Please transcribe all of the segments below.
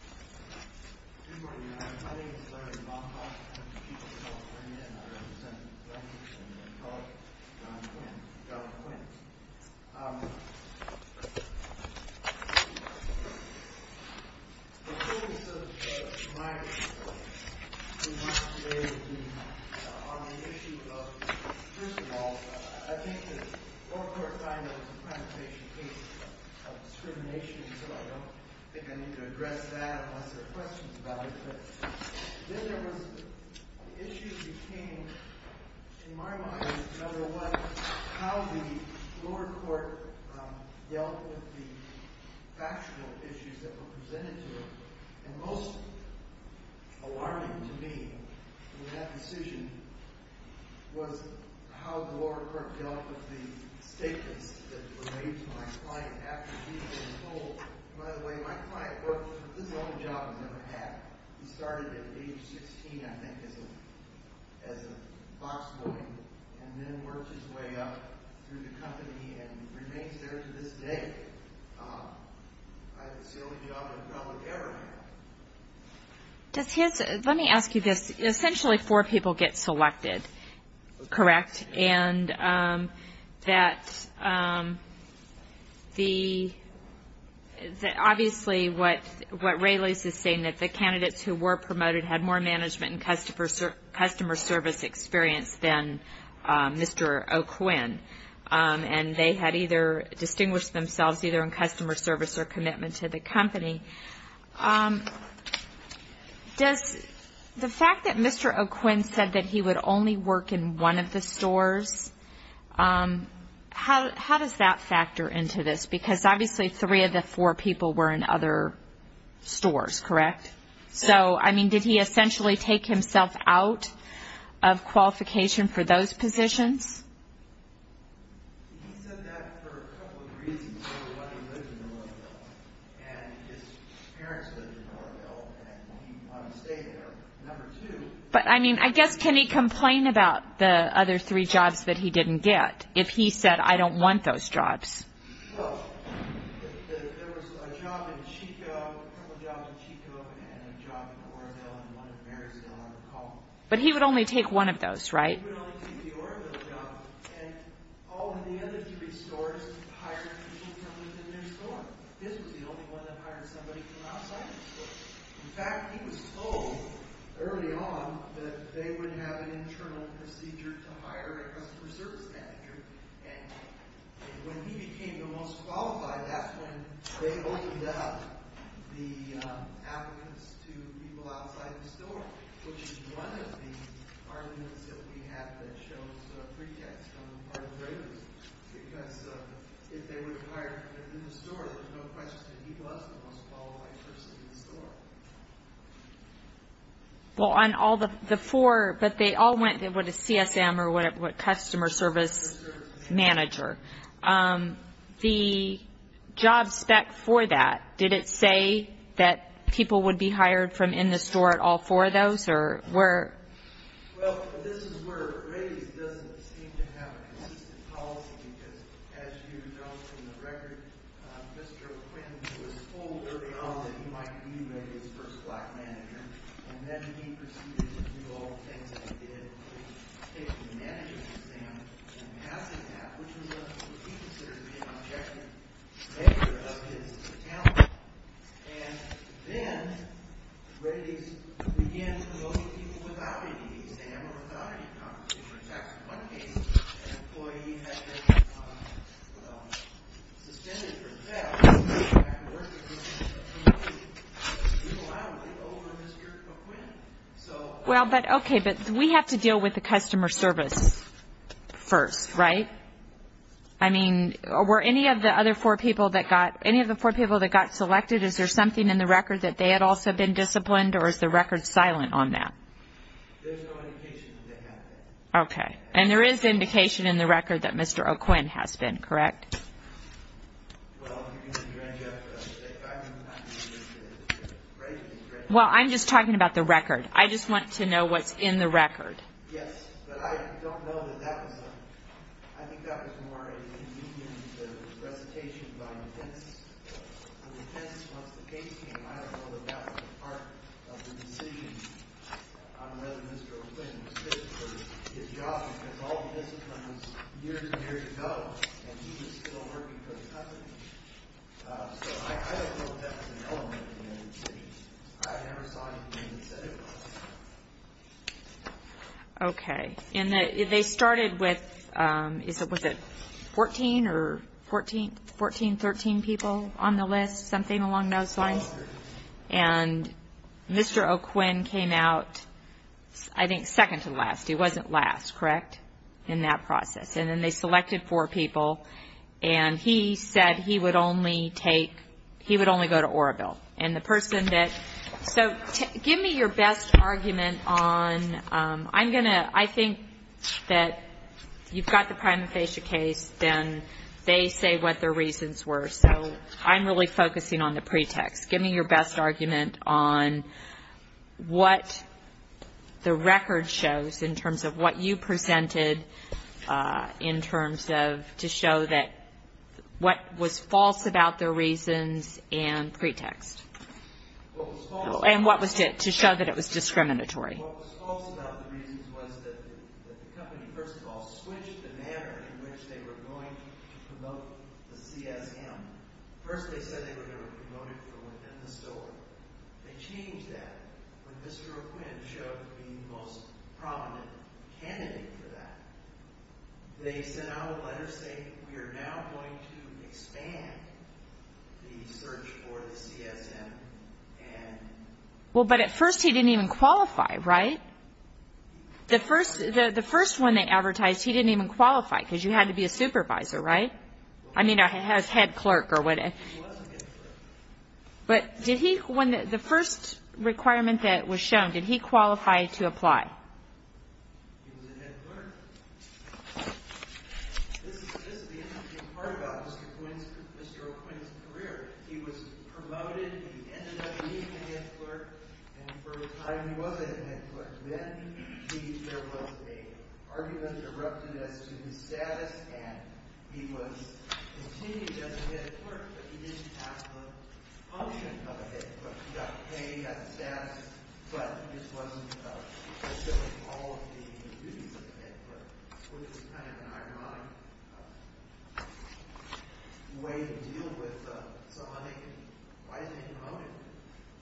Q. Good morning, Your Honor. My name is Larry Baumgartner. I'm from the People's Court of Virginia, and I represent the plaintiffs and their colleagues, John Quinn and Jonathan Wentz. The case of my case today is on the issue of, first of all, I think the four-court final is a presentation case of discrimination, so I don't think I need to address that unless there are questions about it. Then there was the issue became, in my mind, number one, how the lower court dealt with the factual issues that were presented to it. And most alarming to me in that decision was how the lower court dealt with the statements that were made to my client after he was told, by the way, my client worked for this only job he's ever had. He started at age 16, I think, as a box boy, and then worked his way up through the company and remains there to this day. It's the only job my colleague ever had. Let me ask you this. Essentially, four people get selected, correct? And obviously what Raley's is saying is that the candidates who were promoted had more management and customer service experience than Mr. O'Quinn. And they had either distinguished themselves either in customer service or commitment to the company. Does the fact that Mr. O'Quinn said that he would only work in one of the stores, how does that factor into this? Because obviously three of the four people were in other stores, correct? So, I mean, did he essentially take himself out of qualification for those positions? But, I mean, I guess can he complain about the other three jobs that he didn't get if he said, I don't want those jobs? But he would only take one of those, right? to people outside the store, which is one of the arguments that we have that shows pretext on part of Raley's. Because if they would have hired him in the store, there's no question that he was the most qualified person in the store. Well, this is where Raley's doesn't seem to have a consistent policy, because as you know from the record, Mr. O'Quinn was told early on that he might be Raley's first black manager. And then he proceeded to do all the things that he did. He took a management exam and passed that, which is what we consider to be an objective measure of his talent. And then, Raley's began promoting people without taking the exam or without any competition. In fact, in one case, an employee had been suspended for failing to get back to work, because he was humiliated over Mr. O'Quinn. Well, but okay, but we have to deal with the customer service first, right? I mean, were any of the other four people that got selected, is there something in the record that they had also been disciplined, or is the record silent on that? Okay, and there is indication in the record that Mr. O'Quinn has been, correct? Well, if you're going to drench up, if I'm not mistaken, it's Raley's record. Well, I'm just talking about the record. I just want to know what's in the record. Yes, but I don't know that that was, I think that was more a comedian's recitation by defense. The defense, once the case came, I don't know that that was part of the decision on whether Mr. O'Quinn was fit for his job, because all the discipline was years and years ago, and he was still working for the company. So I don't know if that was an element of the decision. I never saw anything that said it was. Okay, and they started with, was it 14 or 14, 14, 13 people on the list, something along those lines? And Mr. O'Quinn came out, I think, second to last. He wasn't last, correct, in that process? And then they selected four people, and he said he would only take, he would only go to Oroville. And the person that, so give me your best argument on, I'm going to, I think that you've got the prima facie case, then they say what their reasons were. So I'm really focusing on the pretext. Give me your best argument on what the record shows in terms of what you presented in terms of, to show that what was false about their reasons and pretext, and what was, to show that it was discriminatory. What was false about the reasons was that the company, first of all, switched the manner in which they were going to promote the CSM. First they said they were going to promote it from within the store. They changed that when Mr. O'Quinn showed to be the most prominent candidate for that. They sent out a letter saying, we are now going to expand the search for the CSM. Well, but at first he didn't even qualify, right? The first one they advertised, he didn't even qualify because you had to be a supervisor, right? I mean, a head clerk or whatever. He was a head clerk. But did he, when the first requirement that was shown, did he qualify to apply? He was a head clerk. This is the interesting part about Mr. O'Quinn's career. He was promoted, he ended up being a head clerk, and for a time he wasn't a head clerk. Then there was an argument erupted as to his status, and he was continued as a head clerk, but he didn't have the function of a head clerk. He got paid, he got the status, but he just wasn't fulfilling all of the duties of a head clerk, which is kind of an ironic way to deal with somebody. Why didn't he promote him?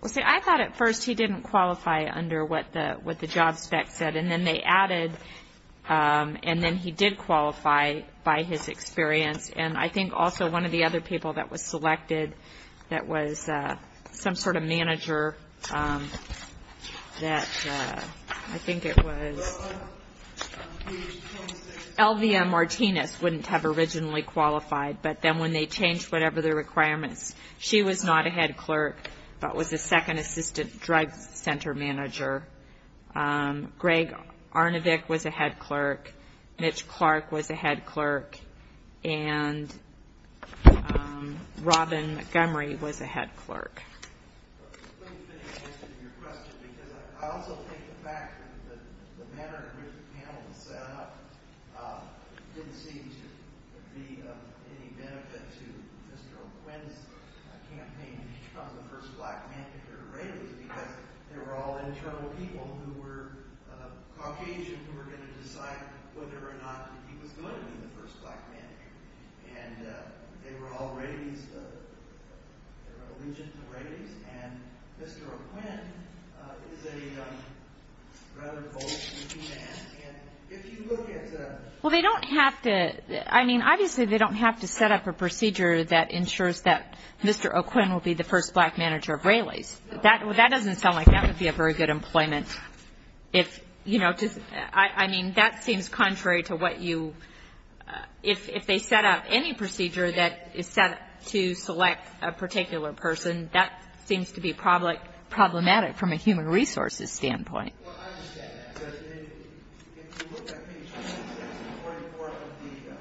Well, see, I thought at first he didn't qualify under what the job spec said, and then they added, and then he did qualify by his experience, and I think also one of the other people that was selected that was some sort of manager that I think it was. LVM Martinez wouldn't have originally qualified, but then when they changed whatever the requirements, she was not a head clerk but was a second assistant drug center manager. Greg Arnovick was a head clerk. Mitch Clark was a head clerk. And Robin Montgomery was a head clerk. I couldn't finish your question because I also think the fact that the manner in which the panel was set up didn't seem to be of any benefit to Mr. O'Quinn's campaign to become the first black manager or raider because they were all internal people who were Caucasian who were going to decide whether or not he was going to be the first black manager, and they were all raiders, they were all legions of raiders, and Mr. O'Quinn is a rather bold looking man. And if you look at the – Well, they don't have to, I mean, obviously they don't have to set up a procedure that ensures that Mr. O'Quinn will be the first black manager of railways. That doesn't sound like that would be a very good employment. If, you know, I mean, that seems contrary to what you – if they set up any procedure that is set up to select a particular person, that seems to be problematic from a human resources standpoint. Well, I understand that because if you look at page 26 and 44 of the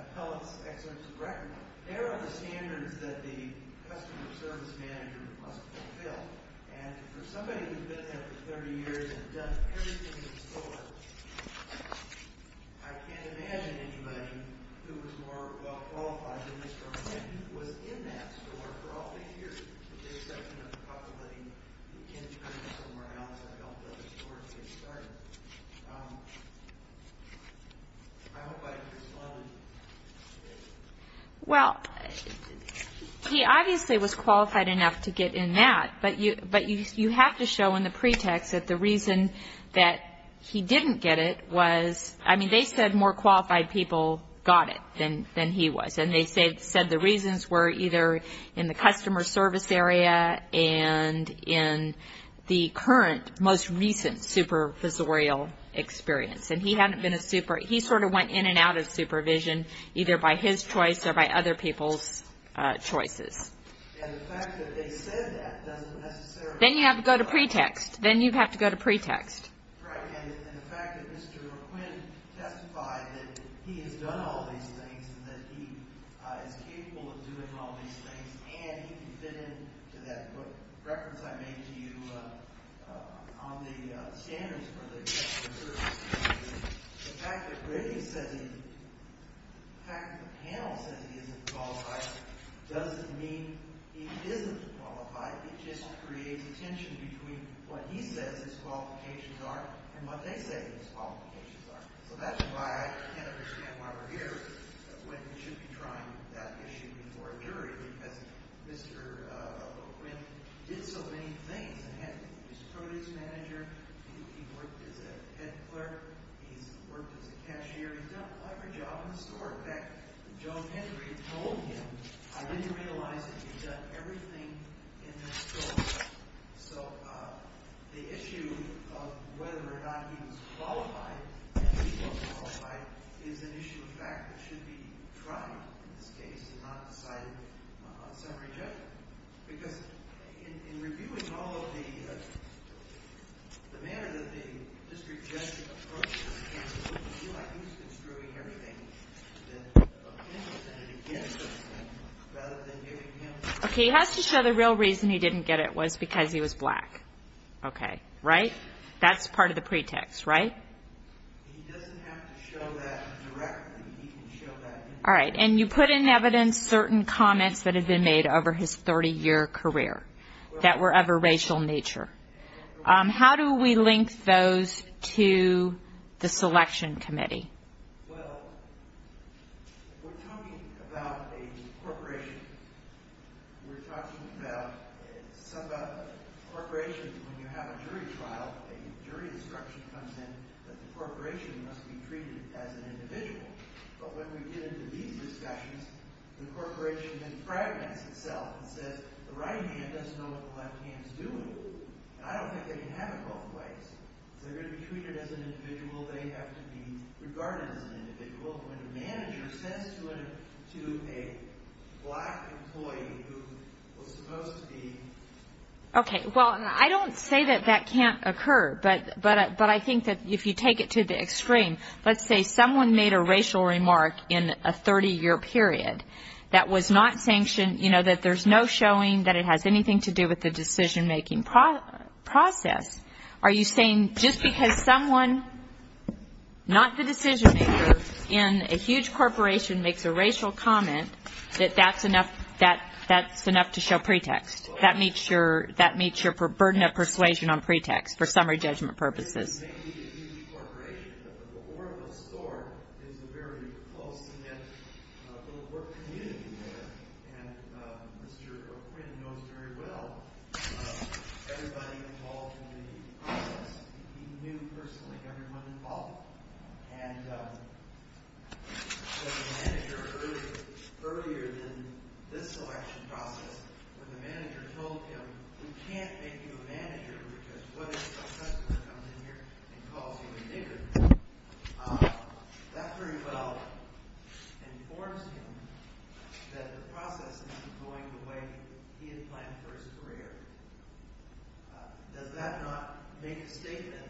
appellate's excellence record, there are the standards that the customer service manager must fulfill. And for somebody who's been there for 30 years and done everything in the store, I can't imagine anybody who was more well-qualified than Mr. O'Quinn who was in that store for all 50 years, with the exception of the possibility he came to the customer house and helped other stores get started. I hope I've responded to that. Well, he obviously was qualified enough to get in that, but you have to show in the pretext that the reason that he didn't get it was – I mean, they said more qualified people got it than he was. And they said the reasons were either in the customer service area and in the current most recent supervisorial experience. And he sort of went in and out of supervision either by his choice or by other people's choices. And the fact that they said that doesn't necessarily – Then you have to go to pretext. Then you have to go to pretext. Right. And the fact that Mr. O'Quinn testified that he has done all these things and that he is capable of doing all these things and he can fit in to that reference I made to you on the standards for the customer service, the fact that the panel says he isn't qualified doesn't mean he isn't qualified. It just creates a tension between what he says his qualifications are and what they say his qualifications are. So that's why I can't understand why we're here. We should be trying that issue before a jury because Mr. O'Quinn did so many things. He was a produce manager. He worked as a head clerk. He's worked as a cashier. He's done a lot of jobs in the store. In fact, Joe Hendry told him, I didn't realize that he's done everything in the store. So the issue of whether or not he was qualified, is an issue of fact that should be tried in this case and not decided on summary judgment. Because in reviewing all of the manner that the district judge approached this case, it doesn't feel like he's been screwing everything that O'Quinn presented against him rather than giving him the correct answer. Okay, he has to show the real reason he didn't get it was because he was black. Okay. Right? That's part of the pretext, right? All right. And you put in evidence certain comments that had been made over his 30-year career that were of a racial nature. How do we link those to the selection committee? A jury instruction comes in that the corporation must be treated as an individual. But when we get into these discussions, the corporation impregnates itself and says the right hand doesn't know what the left hand is doing. I don't think they can have it both ways. If they're going to be treated as an individual, they have to be regarded as an individual. When a manager says to a black employee who was supposed to be... Okay, well, I don't say that that can't occur. But I think that if you take it to the extreme, let's say someone made a racial remark in a 30-year period that was not sanctioned, you know, that there's no showing that it has anything to do with the decision-making process. Are you saying just because someone, not the decision-maker, in a huge corporation makes a racial comment, that that's enough to show pretext? That meets your burden of persuasion on pretext for summary judgment purposes. It may be a huge corporation, but the Oracle store is a very close-knit little work community there. And Mr. O'Quinn knows very well everybody involved in the process. He knew personally everyone involved. And the manager earlier than this election process, when the manager told him, we can't make you a manager because what if a customer comes in here and calls you a nigger? That very well informs him that the process isn't going the way he had planned for his career. Does that not make a statement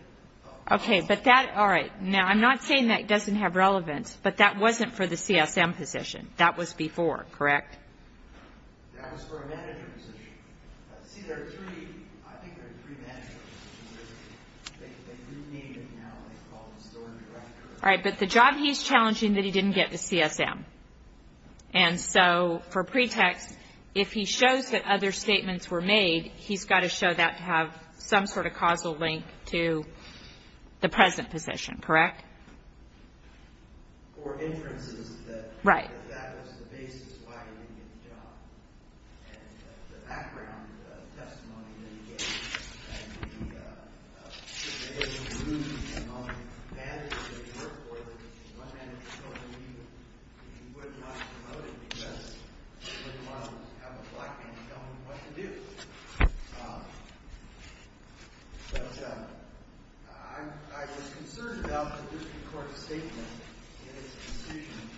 of... Okay, but that, all right. Now, I'm not saying that doesn't have relevance, but that wasn't for the CSM position. That was before, correct? That was for a manager position. See, there are three. I think there are three managers. They do name them now. They call them store directors. All right, but the job he's challenging that he didn't get the CSM. And so for pretext, if he shows that other statements were made, he's got to show that to have some sort of causal link to the present position, correct? Or inferences that... Right. That's why he didn't get the job. And the background testimony that he gave, that he was able to lose the amount of managers that he worked for, that one manager told him he would not be promoted because he wouldn't want to have a black man telling him what to do. But I was concerned about the district court's statement in its decision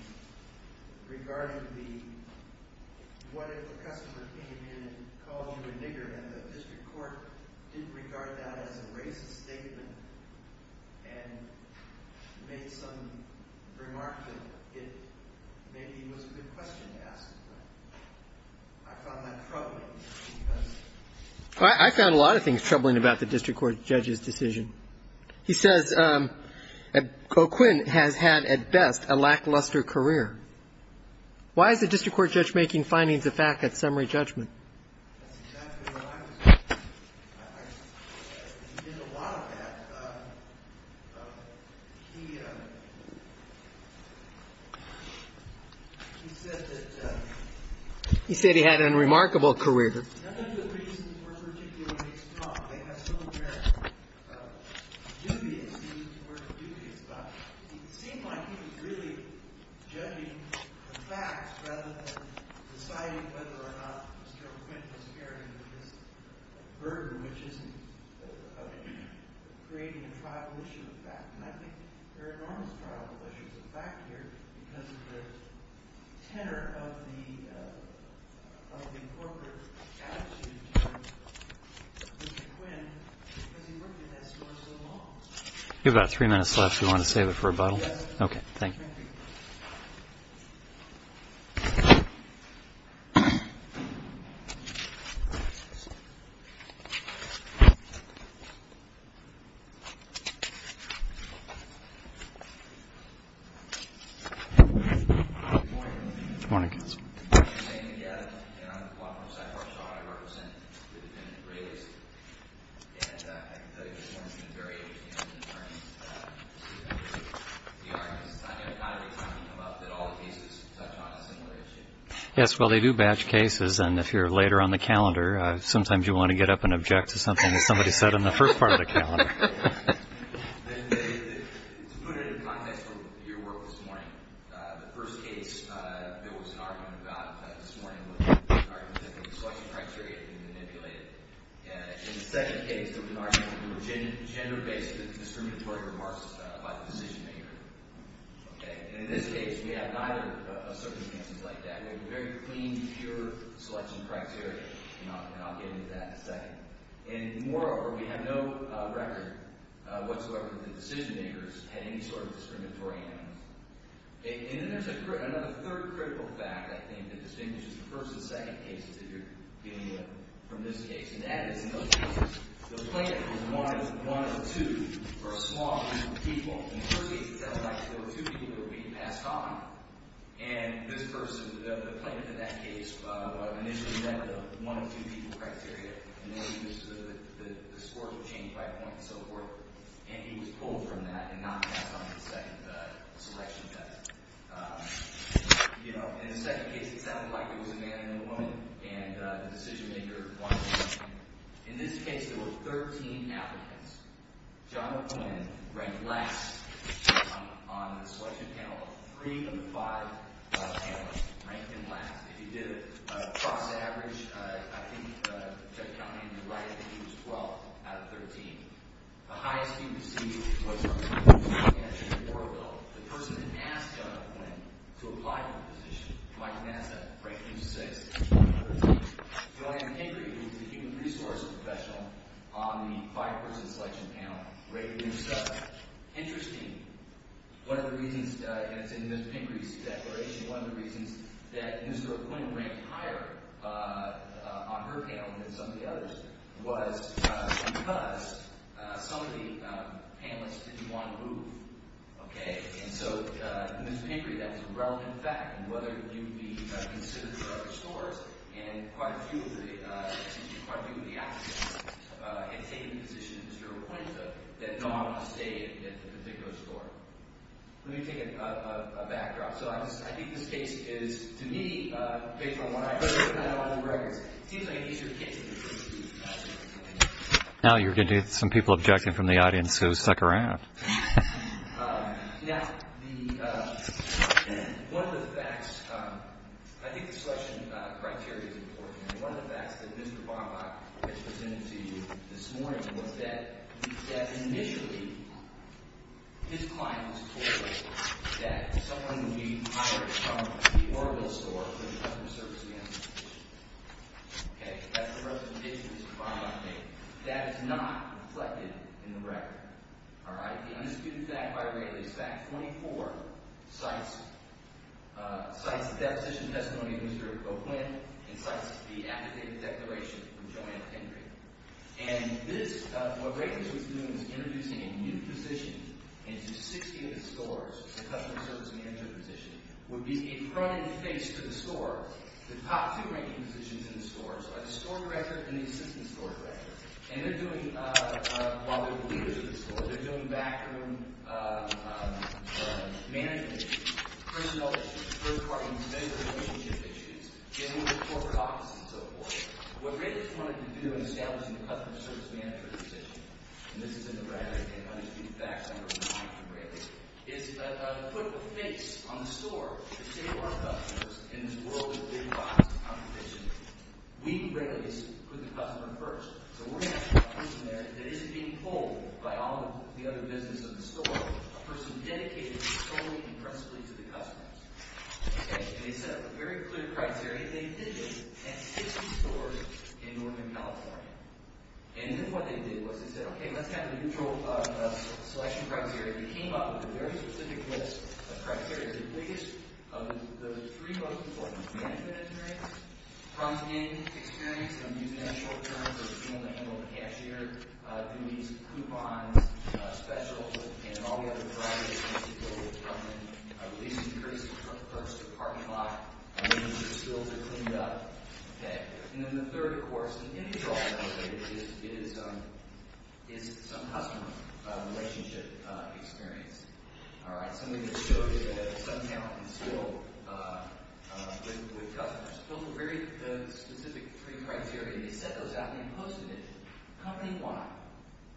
regarding the, what if a customer came in and called you a nigger and the district court didn't regard that as a racist statement and made some remarks that it maybe was a good question to ask. I found that troubling because... I found a lot of things troubling about the district court judge's decision. He says O'Quinn has had, at best, a lackluster career. Why is the district court judge making findings of fact at summary judgment? That's exactly what I was wondering. He did a lot of that. He said that... He said he had an unremarkable career. None of the reasons were particularly strong. They have some very dubious, to use the word dubious, but it seemed like he was really judging the facts rather than deciding whether or not Mr. O'Quinn was carrying this burden, which isn't of creating a tribal issue of fact. Mr. O'Quinn, has he worked at this for so long? You have about three minutes left if you want to save it for a bottle. Yes. Okay, thank you. Good morning. Good morning, counsel. My name is Adam, and I'm a law firm sidebar attorney. I represent the defendant, Brayleys. And I can tell you there's been a variation in the arguments. The arguments, not every time you come up, that all the cases touch on a similar issue. Yes, well, they do batch cases, and if you're later on the calendar, sometimes you want to get up and object to something that somebody said on the first part of the calendar. To put it in context of your work this morning, the first case there was an argument about this morning was an argument that the selection criteria had been manipulated. In the second case, there was an argument that there were gender-based discriminatory remarks by the decision-maker. Okay? And in this case, we have neither of circumstances like that. We have very clean, pure selection criteria, and I'll get into that in a second. And moreover, we have no record whatsoever that decision-makers had any sort of discriminatory animals. And then there's another third critical fact, I think, that distinguishes the first and second cases that you're dealing with from this case, and that is, in those cases, the plaintiff is one of two or a small group of people. In the first case, it sounds like there were two people who were beaten past time, and this person, the plaintiff in that case, initially met the one-of-two-people criteria, and then the scores were changed by point and so forth, and he was pulled from that and not passed on to the second selection test. You know, in the second case, it sounded like it was a man and a woman, and the decision-maker won. In this case, there were 13 applicants. John McMillan ranked last on the selection panel of three of the five panels, ranked him last. If you did a cross-average, I think Chuck Connally was right. I think he was 12th out of 13. The highest student received was from the University of Oregon, the person that asked John McMillan to apply for the position. Mike Nassa ranked him sixth out of 13. Joanne Pinckery, who was the human resources professional on the five-person selection panel, rated him seventh. Interesting. One of the reasons—and it's in Ms. Pinckery's declaration— that Ms. McMillan ranked higher on her panel than some of the others was because some of the panelists didn't want to move. Okay? And so, Ms. Pinckery, that's a relevant fact, and whether you'd be considered for other scores, and quite a few of the applicants had taken positions that you're appointed to that don't want to stay at a particular score. Let me take a backdrop. So I think this case is, to me, based on what I've heard in my own records, it seems like an easier case than it really is. Now you're going to get some people objecting from the audience who suck around. Now, one of the facts—I think the selection criteria is important. One of the facts that Mr. Bobak has presented to you this morning was that initially, his client was told that someone would be hired from the Orville store for the customer service of the institution. Okay? That's the rest of the case that Mr. Bobak made. That is not reflected in the record. All right? It is due to fact by Rayleigh. It's fact 24. Cites the deposition testimony of Mr. O'Quinn and cites the affidavit declaration from Joanna Pinckery. And this—what Rayleigh was doing was introducing a new position into 60 of the stores, the customer service manager position, would be a front and face to the stores. The top two ranking positions in the stores are the store director and the assistant store director. And they're doing—while they're the leaders of the stores, they're doing backroom management, personnel issues, third-party measures, relationship issues, getting into corporate offices, and so forth. What Rayleigh wanted to do in establishing the customer service manager position— and this is in the record, and it's due to fact, number five from Rayleigh— is put a face on the store to take more customers in this world of big box competition. We, Rayleigh, put the customer first. So we're going to have a person there that isn't being pulled by all the other business of the store, a person dedicated solely and principally to the customers. Okay? And they set a very clear criteria. They did this in 60 stores in Northern California. And then what they did was they said, okay, let's have a neutral selection criteria. They came up with a very specific list of criteria. The biggest of the three most important—management experience, front-end experience, and I'm using that in short terms, so it's someone that handled the cashier, who needs coupons, specials, and all the other variety of things that go with front-end, at least increase the purchase of a parking lot, and make sure the spills are cleaned up. Okay. And then the third, of course, in the end result, I would say, is some customer relationship experience. All right? Somebody that showed that they had some talent and skill with customers. Those were very specific three criteria. They set those out and they posted it company-wide.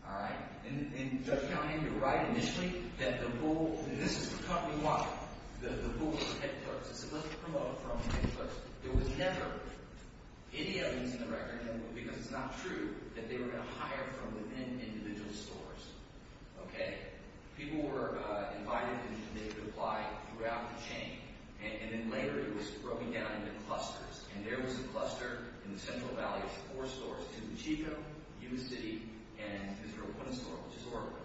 All right? And Judge Conant, you're right initially that the bull—this is company-wide. The bull was headquarters. It said, let's promote it from headquarters. There was never any evidence in the record, because it's not true, that they were going to hire from within individual stores. Okay? People were invited and they could apply throughout the chain. And then later it was broken down into clusters, and there was a cluster in the Central Valley of four stores, which is Chico, Yuma City, and Mr. O'Quinn's store, which is Oracle.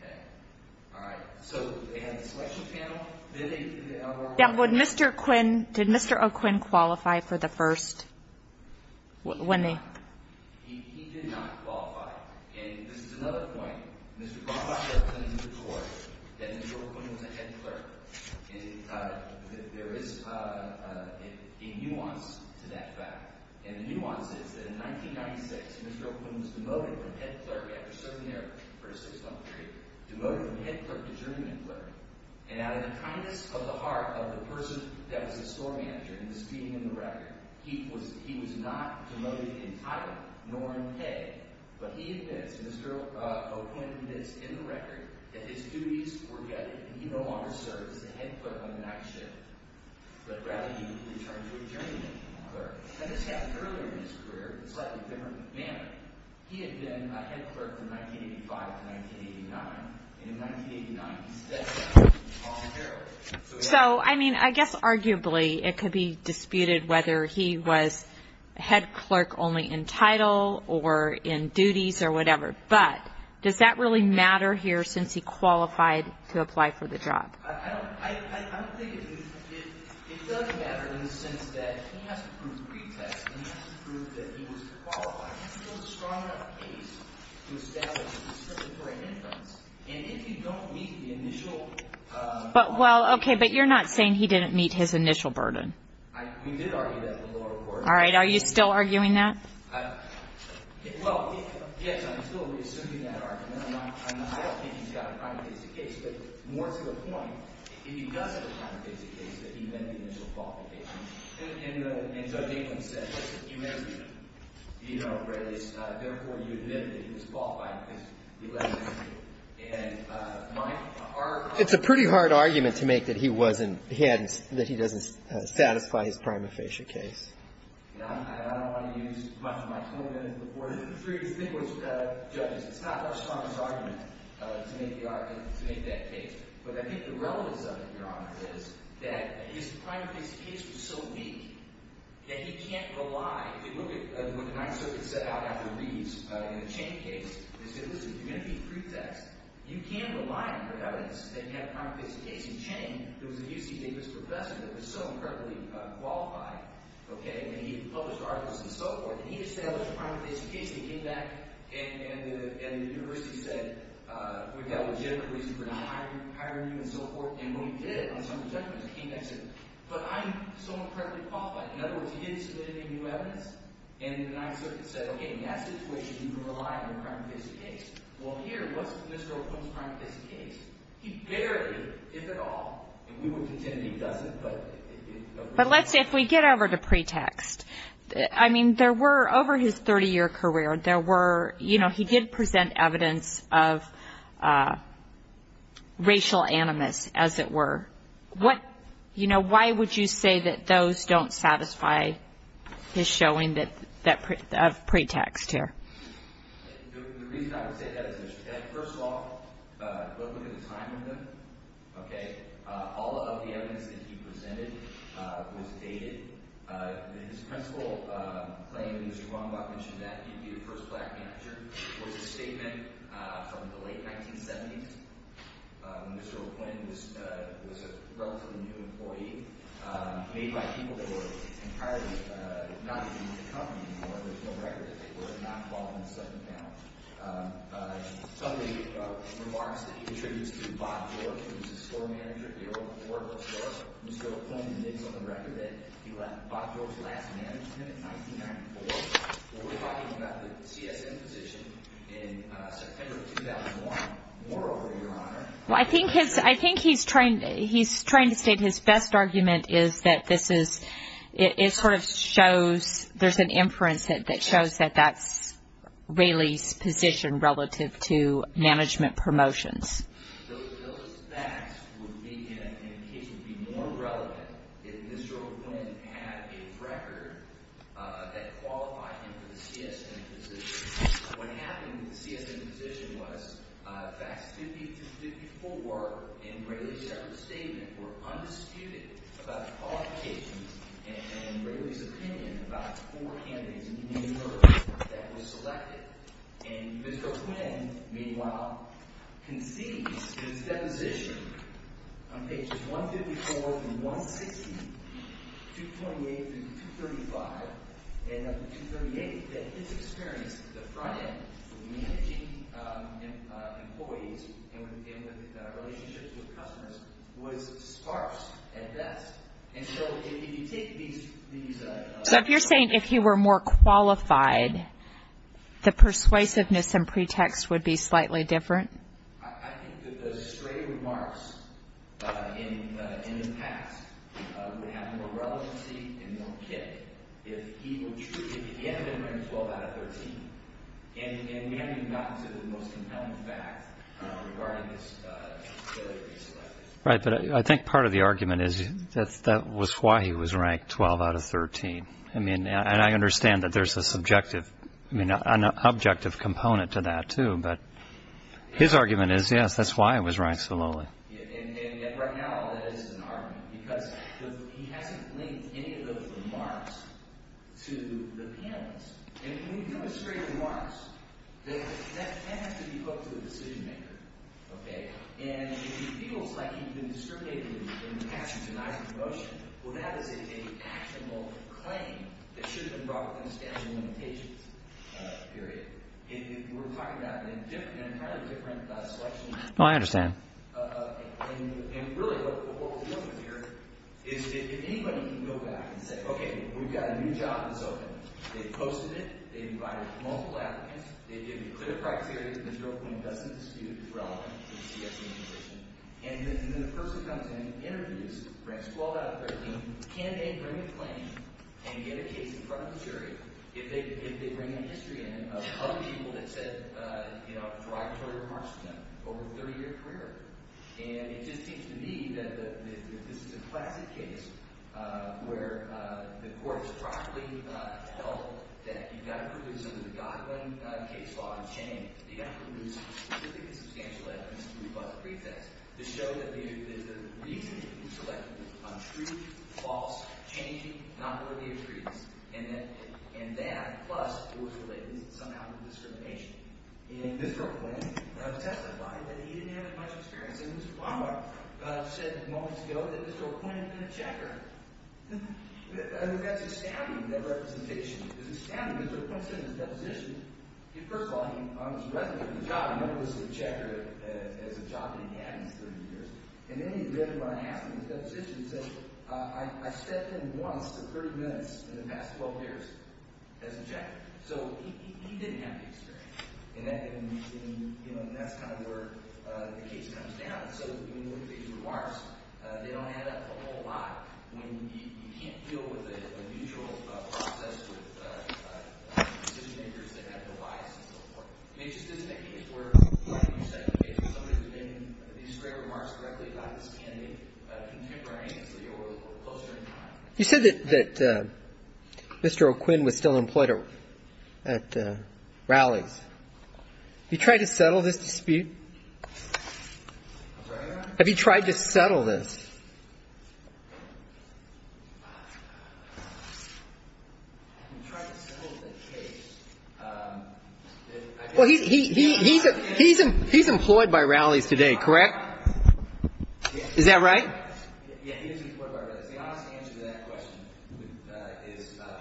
Okay? All right. So they had a selection panel. Then they— Yeah, but Mr. O'Quinn, did Mr. O'Quinn qualify for the first? He did not. He did not qualify. And this is another point. Mr. O'Quinn was a head clerk. There is a nuance to that fact. And the nuance is that in 1996, Mr. O'Quinn was demoted from head clerk after serving there for a six-month period, demoted from head clerk to journeyman clerk. And out of the kindness of the heart of the person that was the store manager in this meeting in the record, he was not demoted entirely, nor in pay, but he admits, Mr. O'Quinn admits in the record, that his duties were gutted and he no longer served as the head clerk on the night shift, but rather he returned to a journeyman clerk. And this happened earlier in his career in a slightly different manner. He had been a head clerk from 1985 to 1989. And in 1989, he stepped down and was called a hero. So, I mean, I guess arguably it could be disputed whether he was head clerk only in title or in duties or whatever. But does that really matter here since he qualified to apply for the job? I don't think it does matter in the sense that he has to prove pretext, and he has to prove that he was qualified. He has to build a strong enough case to establish that he was serving for an inference. And if you don't meet the initial burden of the case. But, well, okay, but you're not saying he didn't meet his initial burden. We did argue that in the lower court. All right. Are you still arguing that? Well, yes, I'm still re-assuming that argument. I don't think he's got a prima facie case. But more to the point, if he doesn't have a prima facie case, that he met the initial qualification. And Judge England said that he met it. You know, therefore, you admit that he was qualified because he met the initial. And my argument is that he didn't. It's a pretty hard argument to make that he wasn't – that he doesn't satisfy his prima facie case. I don't want to use much of my 20-minute report. I think it was – judges, it's not our strongest argument to make that case. But I think the relevance of it, Your Honor, is that his prima facie case was so weak that he can't rely – if you look at what the Ninth Circuit set out after Reeves in the Chain case, they said, listen, if you're going to be a pretext, you can't rely on your evidence that you have a prima facie case. In Chain, there was a UC Davis professor that was so incredibly qualified, okay, and he published articles and so forth, and he established a prima facie case, and he came back and the university said, we've got a legitimate reason for not hiring you and so forth. And what he did on some of the judgments, he came back and said, but I'm so incredibly qualified. In other words, he didn't submit any new evidence, and the Ninth Circuit said, okay, in that situation, you can rely on a prima facie case. Well, here, what's Mr. O'Connor's prima facie case? He barely, if at all – and we would contend that he doesn't, but it – But let's say, if we get over to pretext, I mean, there were, over his 30-year career, there were, you know, he did present evidence of racial animus, as it were. What, you know, why would you say that those don't satisfy his showing of pretext here? The reason I would say that is, first of all, look at the time of them. Okay? All of the evidence that he presented was dated. His principal claim, Mr. Wambach mentioned that, he'd be the first black manager, was a statement from the late 1970s. Mr. O'Quinn was a relatively new employee, made by people that were entirely not in the company anymore. There's no record that they were. They're not involved in the settlement now. Some of the remarks that he contributes to Bob George, who was his store manager here over at Oracle Store. Mr. O'Quinn admits on the record that he let Bob George last manage him in 1994. We're talking about the CSM position in September of 2001. Moreover, Your Honor, Well, I think his – I think he's trying to state his best argument is that this is – it sort of shows – there's an inference that shows that that's Raley's position relative to management promotions. Those facts would be in a case would be more relevant if Mr. O'Quinn had a record that qualified him for the CSM position. What happened in the CSM position was facts 50 to 54 in Raley's separate statement were undisputed about the qualifications and Raley's opinion about four candidates in New York that were selected. And Mr. O'Quinn, meanwhile, concedes in his deposition on pages 154 through 160, 228 through 235, and up to 238, that his experience at the front end of managing employees and with relationships with customers was sparse at best. And so if you take these – So if you're saying if he were more qualified, the persuasiveness and pretext would be slightly different? I think that the straight remarks in the past would have more relevancy and more kick. If he had been ranked 12 out of 13, and we haven't even gotten to the most compelling fact regarding his failure to be selected. Right, but I think part of the argument is that that was why he was ranked 12 out of 13. And I understand that there's an objective component to that too, but his argument is, yes, that's why he was ranked so lowly. And yet right now, that is an argument, because he hasn't linked any of those remarks to the panelists. And when you demonstrate remarks, that has to be put to the decision-maker. And if he feels like he's been discriminated against and denied promotion, well, that is an actionable claim that should have been brought within the statute of limitations, period. And we're talking about an entirely different selection. And really what we're dealing with here is if anybody can go back and say, okay, we've got a new job that's open. They've posted it. They've invited multiple applicants. They've given you clear criteria. There's no point in discussing the dispute. It's irrelevant. And then the person comes in, interviews, ranks 12 out of 13. Can they bring a claim and get a case in front of the jury if they bring in history of other people that said derogatory remarks to them over a 30-year career? And it just seems to me that if this is a classic case where the court has properly held that you've got to produce under the Godwin case law a change, you've got to produce specific and substantial evidence to rebut the pretext, to show that the reason that you selected was untrue, false, changing, not worthy of treaties, and that plus it was related somehow to discrimination. And Mr. O'Quinn testified that he didn't have much experience. And Mr. Bonner said moments ago that Mr. O'Quinn had been a checker. That's astounding. That representation is astounding. Mr. O'Quinn said in his deposition – first of all, he was a resident of the job. He never was a checker as a job that he had in his 30 years. I stepped in once in 30 minutes in the past 12 years as a checker. So he didn't have the experience. And that's kind of where the case comes down. So when you look at these remarks, they don't add up a whole lot. You can't deal with a neutral process with decision-makers that have no bias and so forth. I mean, it just isn't a case where, like you said, You said that Mr. O'Quinn was still employed at rallies. Have you tried to settle this dispute? Have you tried to settle this? He's employed. He's employed by rallies today, correct? Is that right?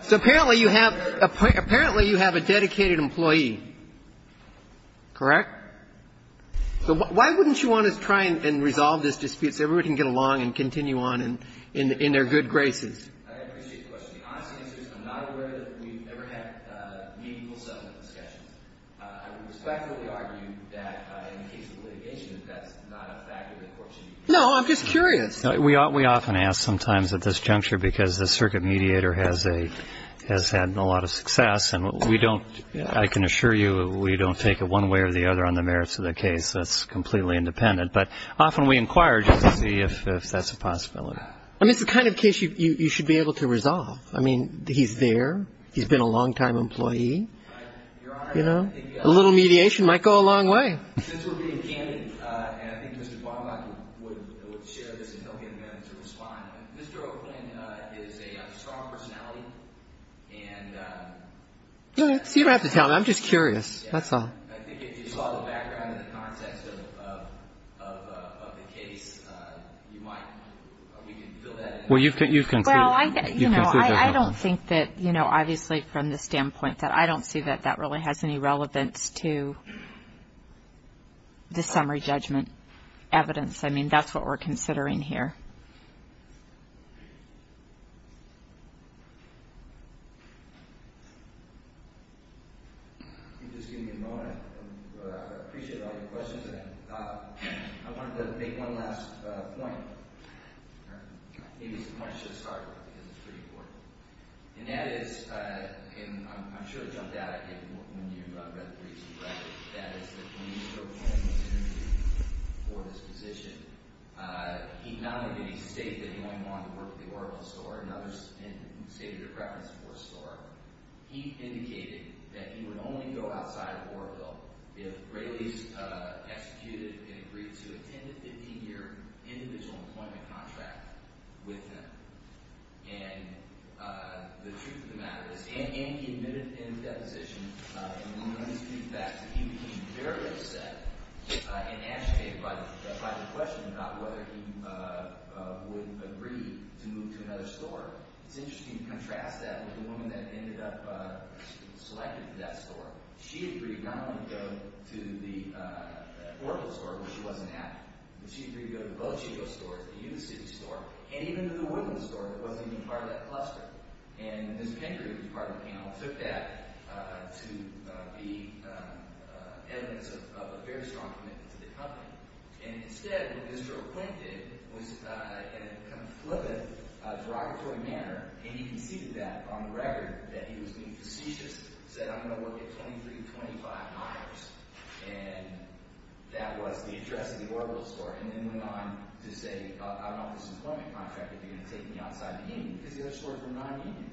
So apparently you have – apparently you have a dedicated employee, correct? So why wouldn't you want to try and resolve this dispute so everybody can get along and continue on in their good graces? I appreciate the question. The honest answer is I'm not aware that we've ever had meaningful settlement discussions. I would respectfully argue that in the case of litigation that that's not a factor that courts should use. No, I'm just curious. We often ask sometimes at this juncture because the circuit mediator has a – has had a lot of success. And we don't – I can assure you we don't take it one way or the other on the merits of the case. That's completely independent. But often we inquire just to see if that's a possibility. I mean, it's the kind of case you should be able to resolve. I mean, he's there. He's been a longtime employee. Your Honor, I think – A little mediation might go a long way. Since we're being candid, and I think Mr. Baumgartner would share this and help him to respond, Mr. Oakland is a strong personality and – You don't have to tell me. I'm just curious. That's all. I think if you saw the background and the context of the case, you might – you can fill that in. Well, you've considered that. Well, I don't think that, you know, obviously from the standpoint that I don't see that that really has any relevance to the summary judgment evidence. I mean, that's what we're considering here. Thank you. Just give me a moment. I appreciate all your questions. I wanted to make one last point. Maybe it's too much to start with because it's pretty important. And that is – and I'm sure it jumped out at you when you read the briefs and read it. That is that when Mr. Oakland was interviewed for this position, he not only did he state that he only wanted to work at the Oroville store and others stated a preference for a store. He indicated that he would only go outside of Oroville if Raley's executed and agreed to a 10- to 15-year individual employment contract with him. And the truth of the matter is – and he admitted in the deposition, and we learned his feedback, that he became very upset and agitated by the question about whether he would agree to move to another store. It's interesting to contrast that with the woman that ended up selected for that store. She agreed not only to go to the Oroville store, which she wasn't at, but she agreed to go to the Bo Chico store, the Union City store, and even to the Woodlands store that wasn't even part of that cluster. And Mr. Henry, who was part of the panel, took that to be evidence of a very strong commitment to the company. And instead, what Mr. Oakland did was in a kind of flippant, derogatory manner – and he conceded that on the record that he was being facetious – said, I'm going to work at 2325 Myers, and that was the address of the Oroville store, and then went on to say, I don't know if this employment contract that you're going to take me outside the union because the other stores were non-union.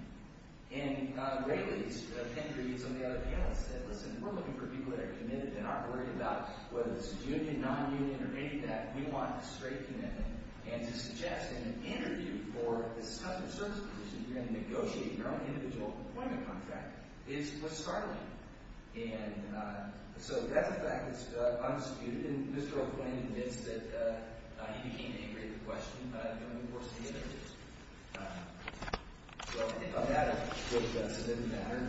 And Ray Lee, Mr. Henry, who was on the other panel, said, listen, we're looking for people that are committed and aren't worried about whether this is union, non-union, or any of that. We want a straight commitment, and to suggest in an interview for this customer service position that you're going to negotiate your own individual employment contract is startling. And so that's a fact that's undisputed, and Mr. Oakland admits that he became angry at the question, but I don't think we're forcing him to do it. So I think on that note, does it matter?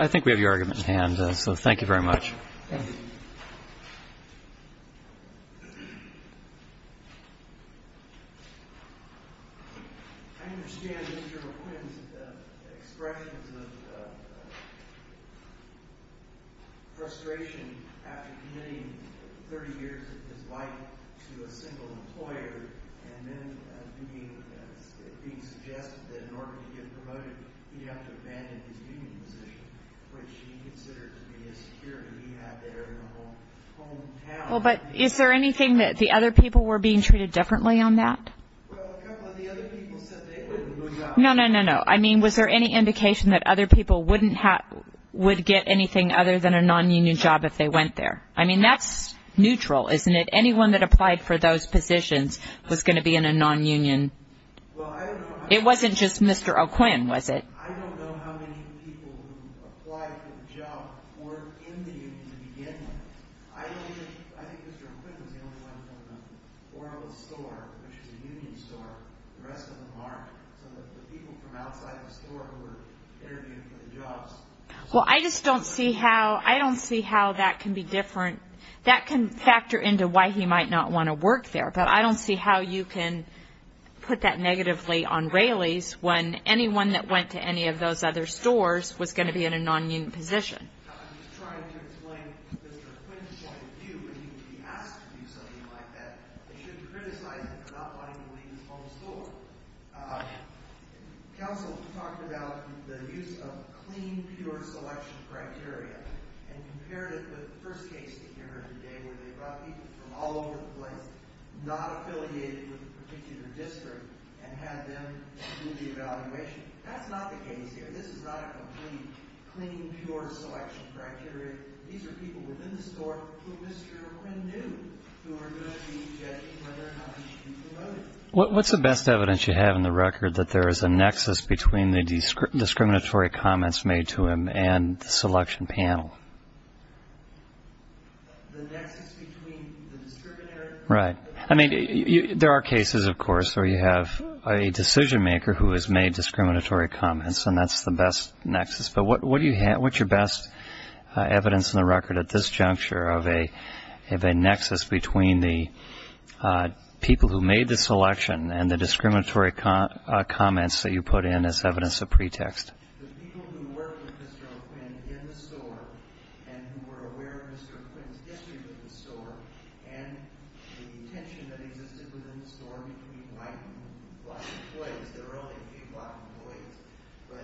I think we have your argument in hand, so thank you very much. Thank you. I understand Mr. McQuinn's expressions of frustration after committing 30 years of his life to a single employer and then being suggested that in order to get promoted, he'd have to abandon his union position, which he considered to be a security he had there in the whole hometown. Well, but is there anything that the other people were being treated differently on that? Well, a couple of the other people said they wouldn't move out. No, no, no, no. I mean, was there any indication that other people wouldn't have – would get anything other than a non-union job if they went there? I mean, that's neutral, isn't it? Anyone that applied for those positions was going to be in a non-union. Well, I don't know. It wasn't just Mr. Oakland, was it? I don't know how many people who applied for the job were in the union to begin with. I think Mr. McQuinn was the only one from the Oralist store, which is a union store. The rest of them aren't. Some of the people from outside the store who were interviewed for the jobs. Well, I just don't see how – I don't see how that can be different. That can factor into why he might not want to work there. But I don't see how you can put that negatively on Raley's when anyone that went to any of those other stores was going to be in a non-union position. I'm just trying to explain Mr. McQuinn's point of view when he would be asked to do something like that. They shouldn't criticize him for not wanting to leave his home store. Counsel talked about the use of clean, pure selection criteria and compared it with the first case that you heard today where they brought people from all over the place, not affiliated with a particular district, and had them do the evaluation. That's not the case here. This is not a complete clean, pure selection criteria. These are people within the store who Mr. McQuinn knew who were going to be judged whether or not he should be promoted. What's the best evidence you have in the record that there is a nexus between the discriminatory comments made to him and the selection panel? Right. I mean, there are cases, of course, where you have a decision maker who has made discriminatory comments, and that's the best nexus. But what's your best evidence in the record at this juncture of a nexus between the people who made the selection and the discriminatory comments that you put in as evidence of pretext? The people who worked with Mr. McQuinn in the store and who were aware of Mr. McQuinn's history with the store and the tension that existed within the store between white and black employees. But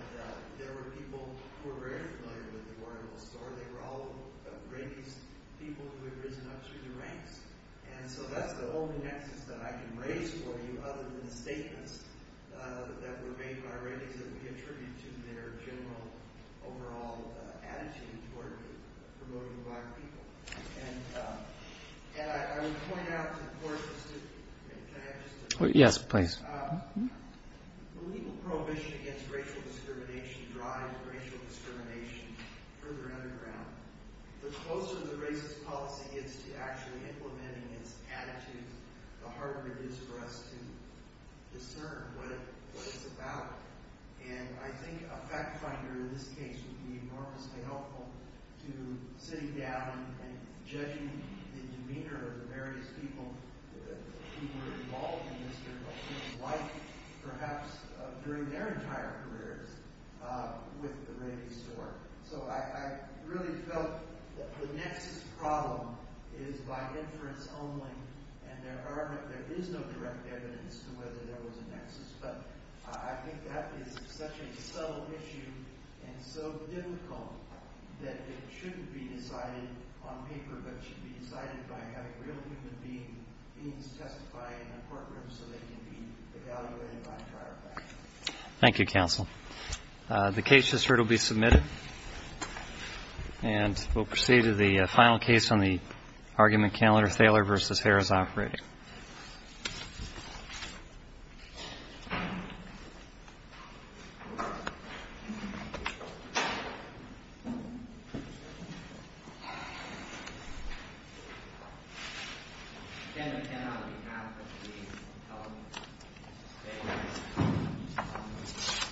there were people who were very familiar with the store. They were all of the greatest people who had risen up through the ranks. And so that's the only nexus that I can raise for you other than the statements that were made by rankings that we attribute to their general overall attitude toward promoting black people. And I would point out, of course, the legal prohibition against racial discrimination drives racial discrimination further underground. The closer the racist policy gets to actually implementing its attitude, the harder it is for us to discern what it's about. And I think a fact finder in this case would be enormously helpful to sitting down and judging the demeanor of the various people who were involved in Mr. McQuinn's life, perhaps during their entire careers, with the rainy store. So I really felt that the nexus problem is by inference only, and there is no direct evidence to whether there was a nexus. But I think that is such a subtle issue and so difficult that it shouldn't be decided on paper, but should be decided by having real human beings testify in a courtroom so they can be evaluated by prior facts. Thank you, counsel. Thank you. And we'll proceed to the final case on the argument, Candler-Thaler v. Harris Operating.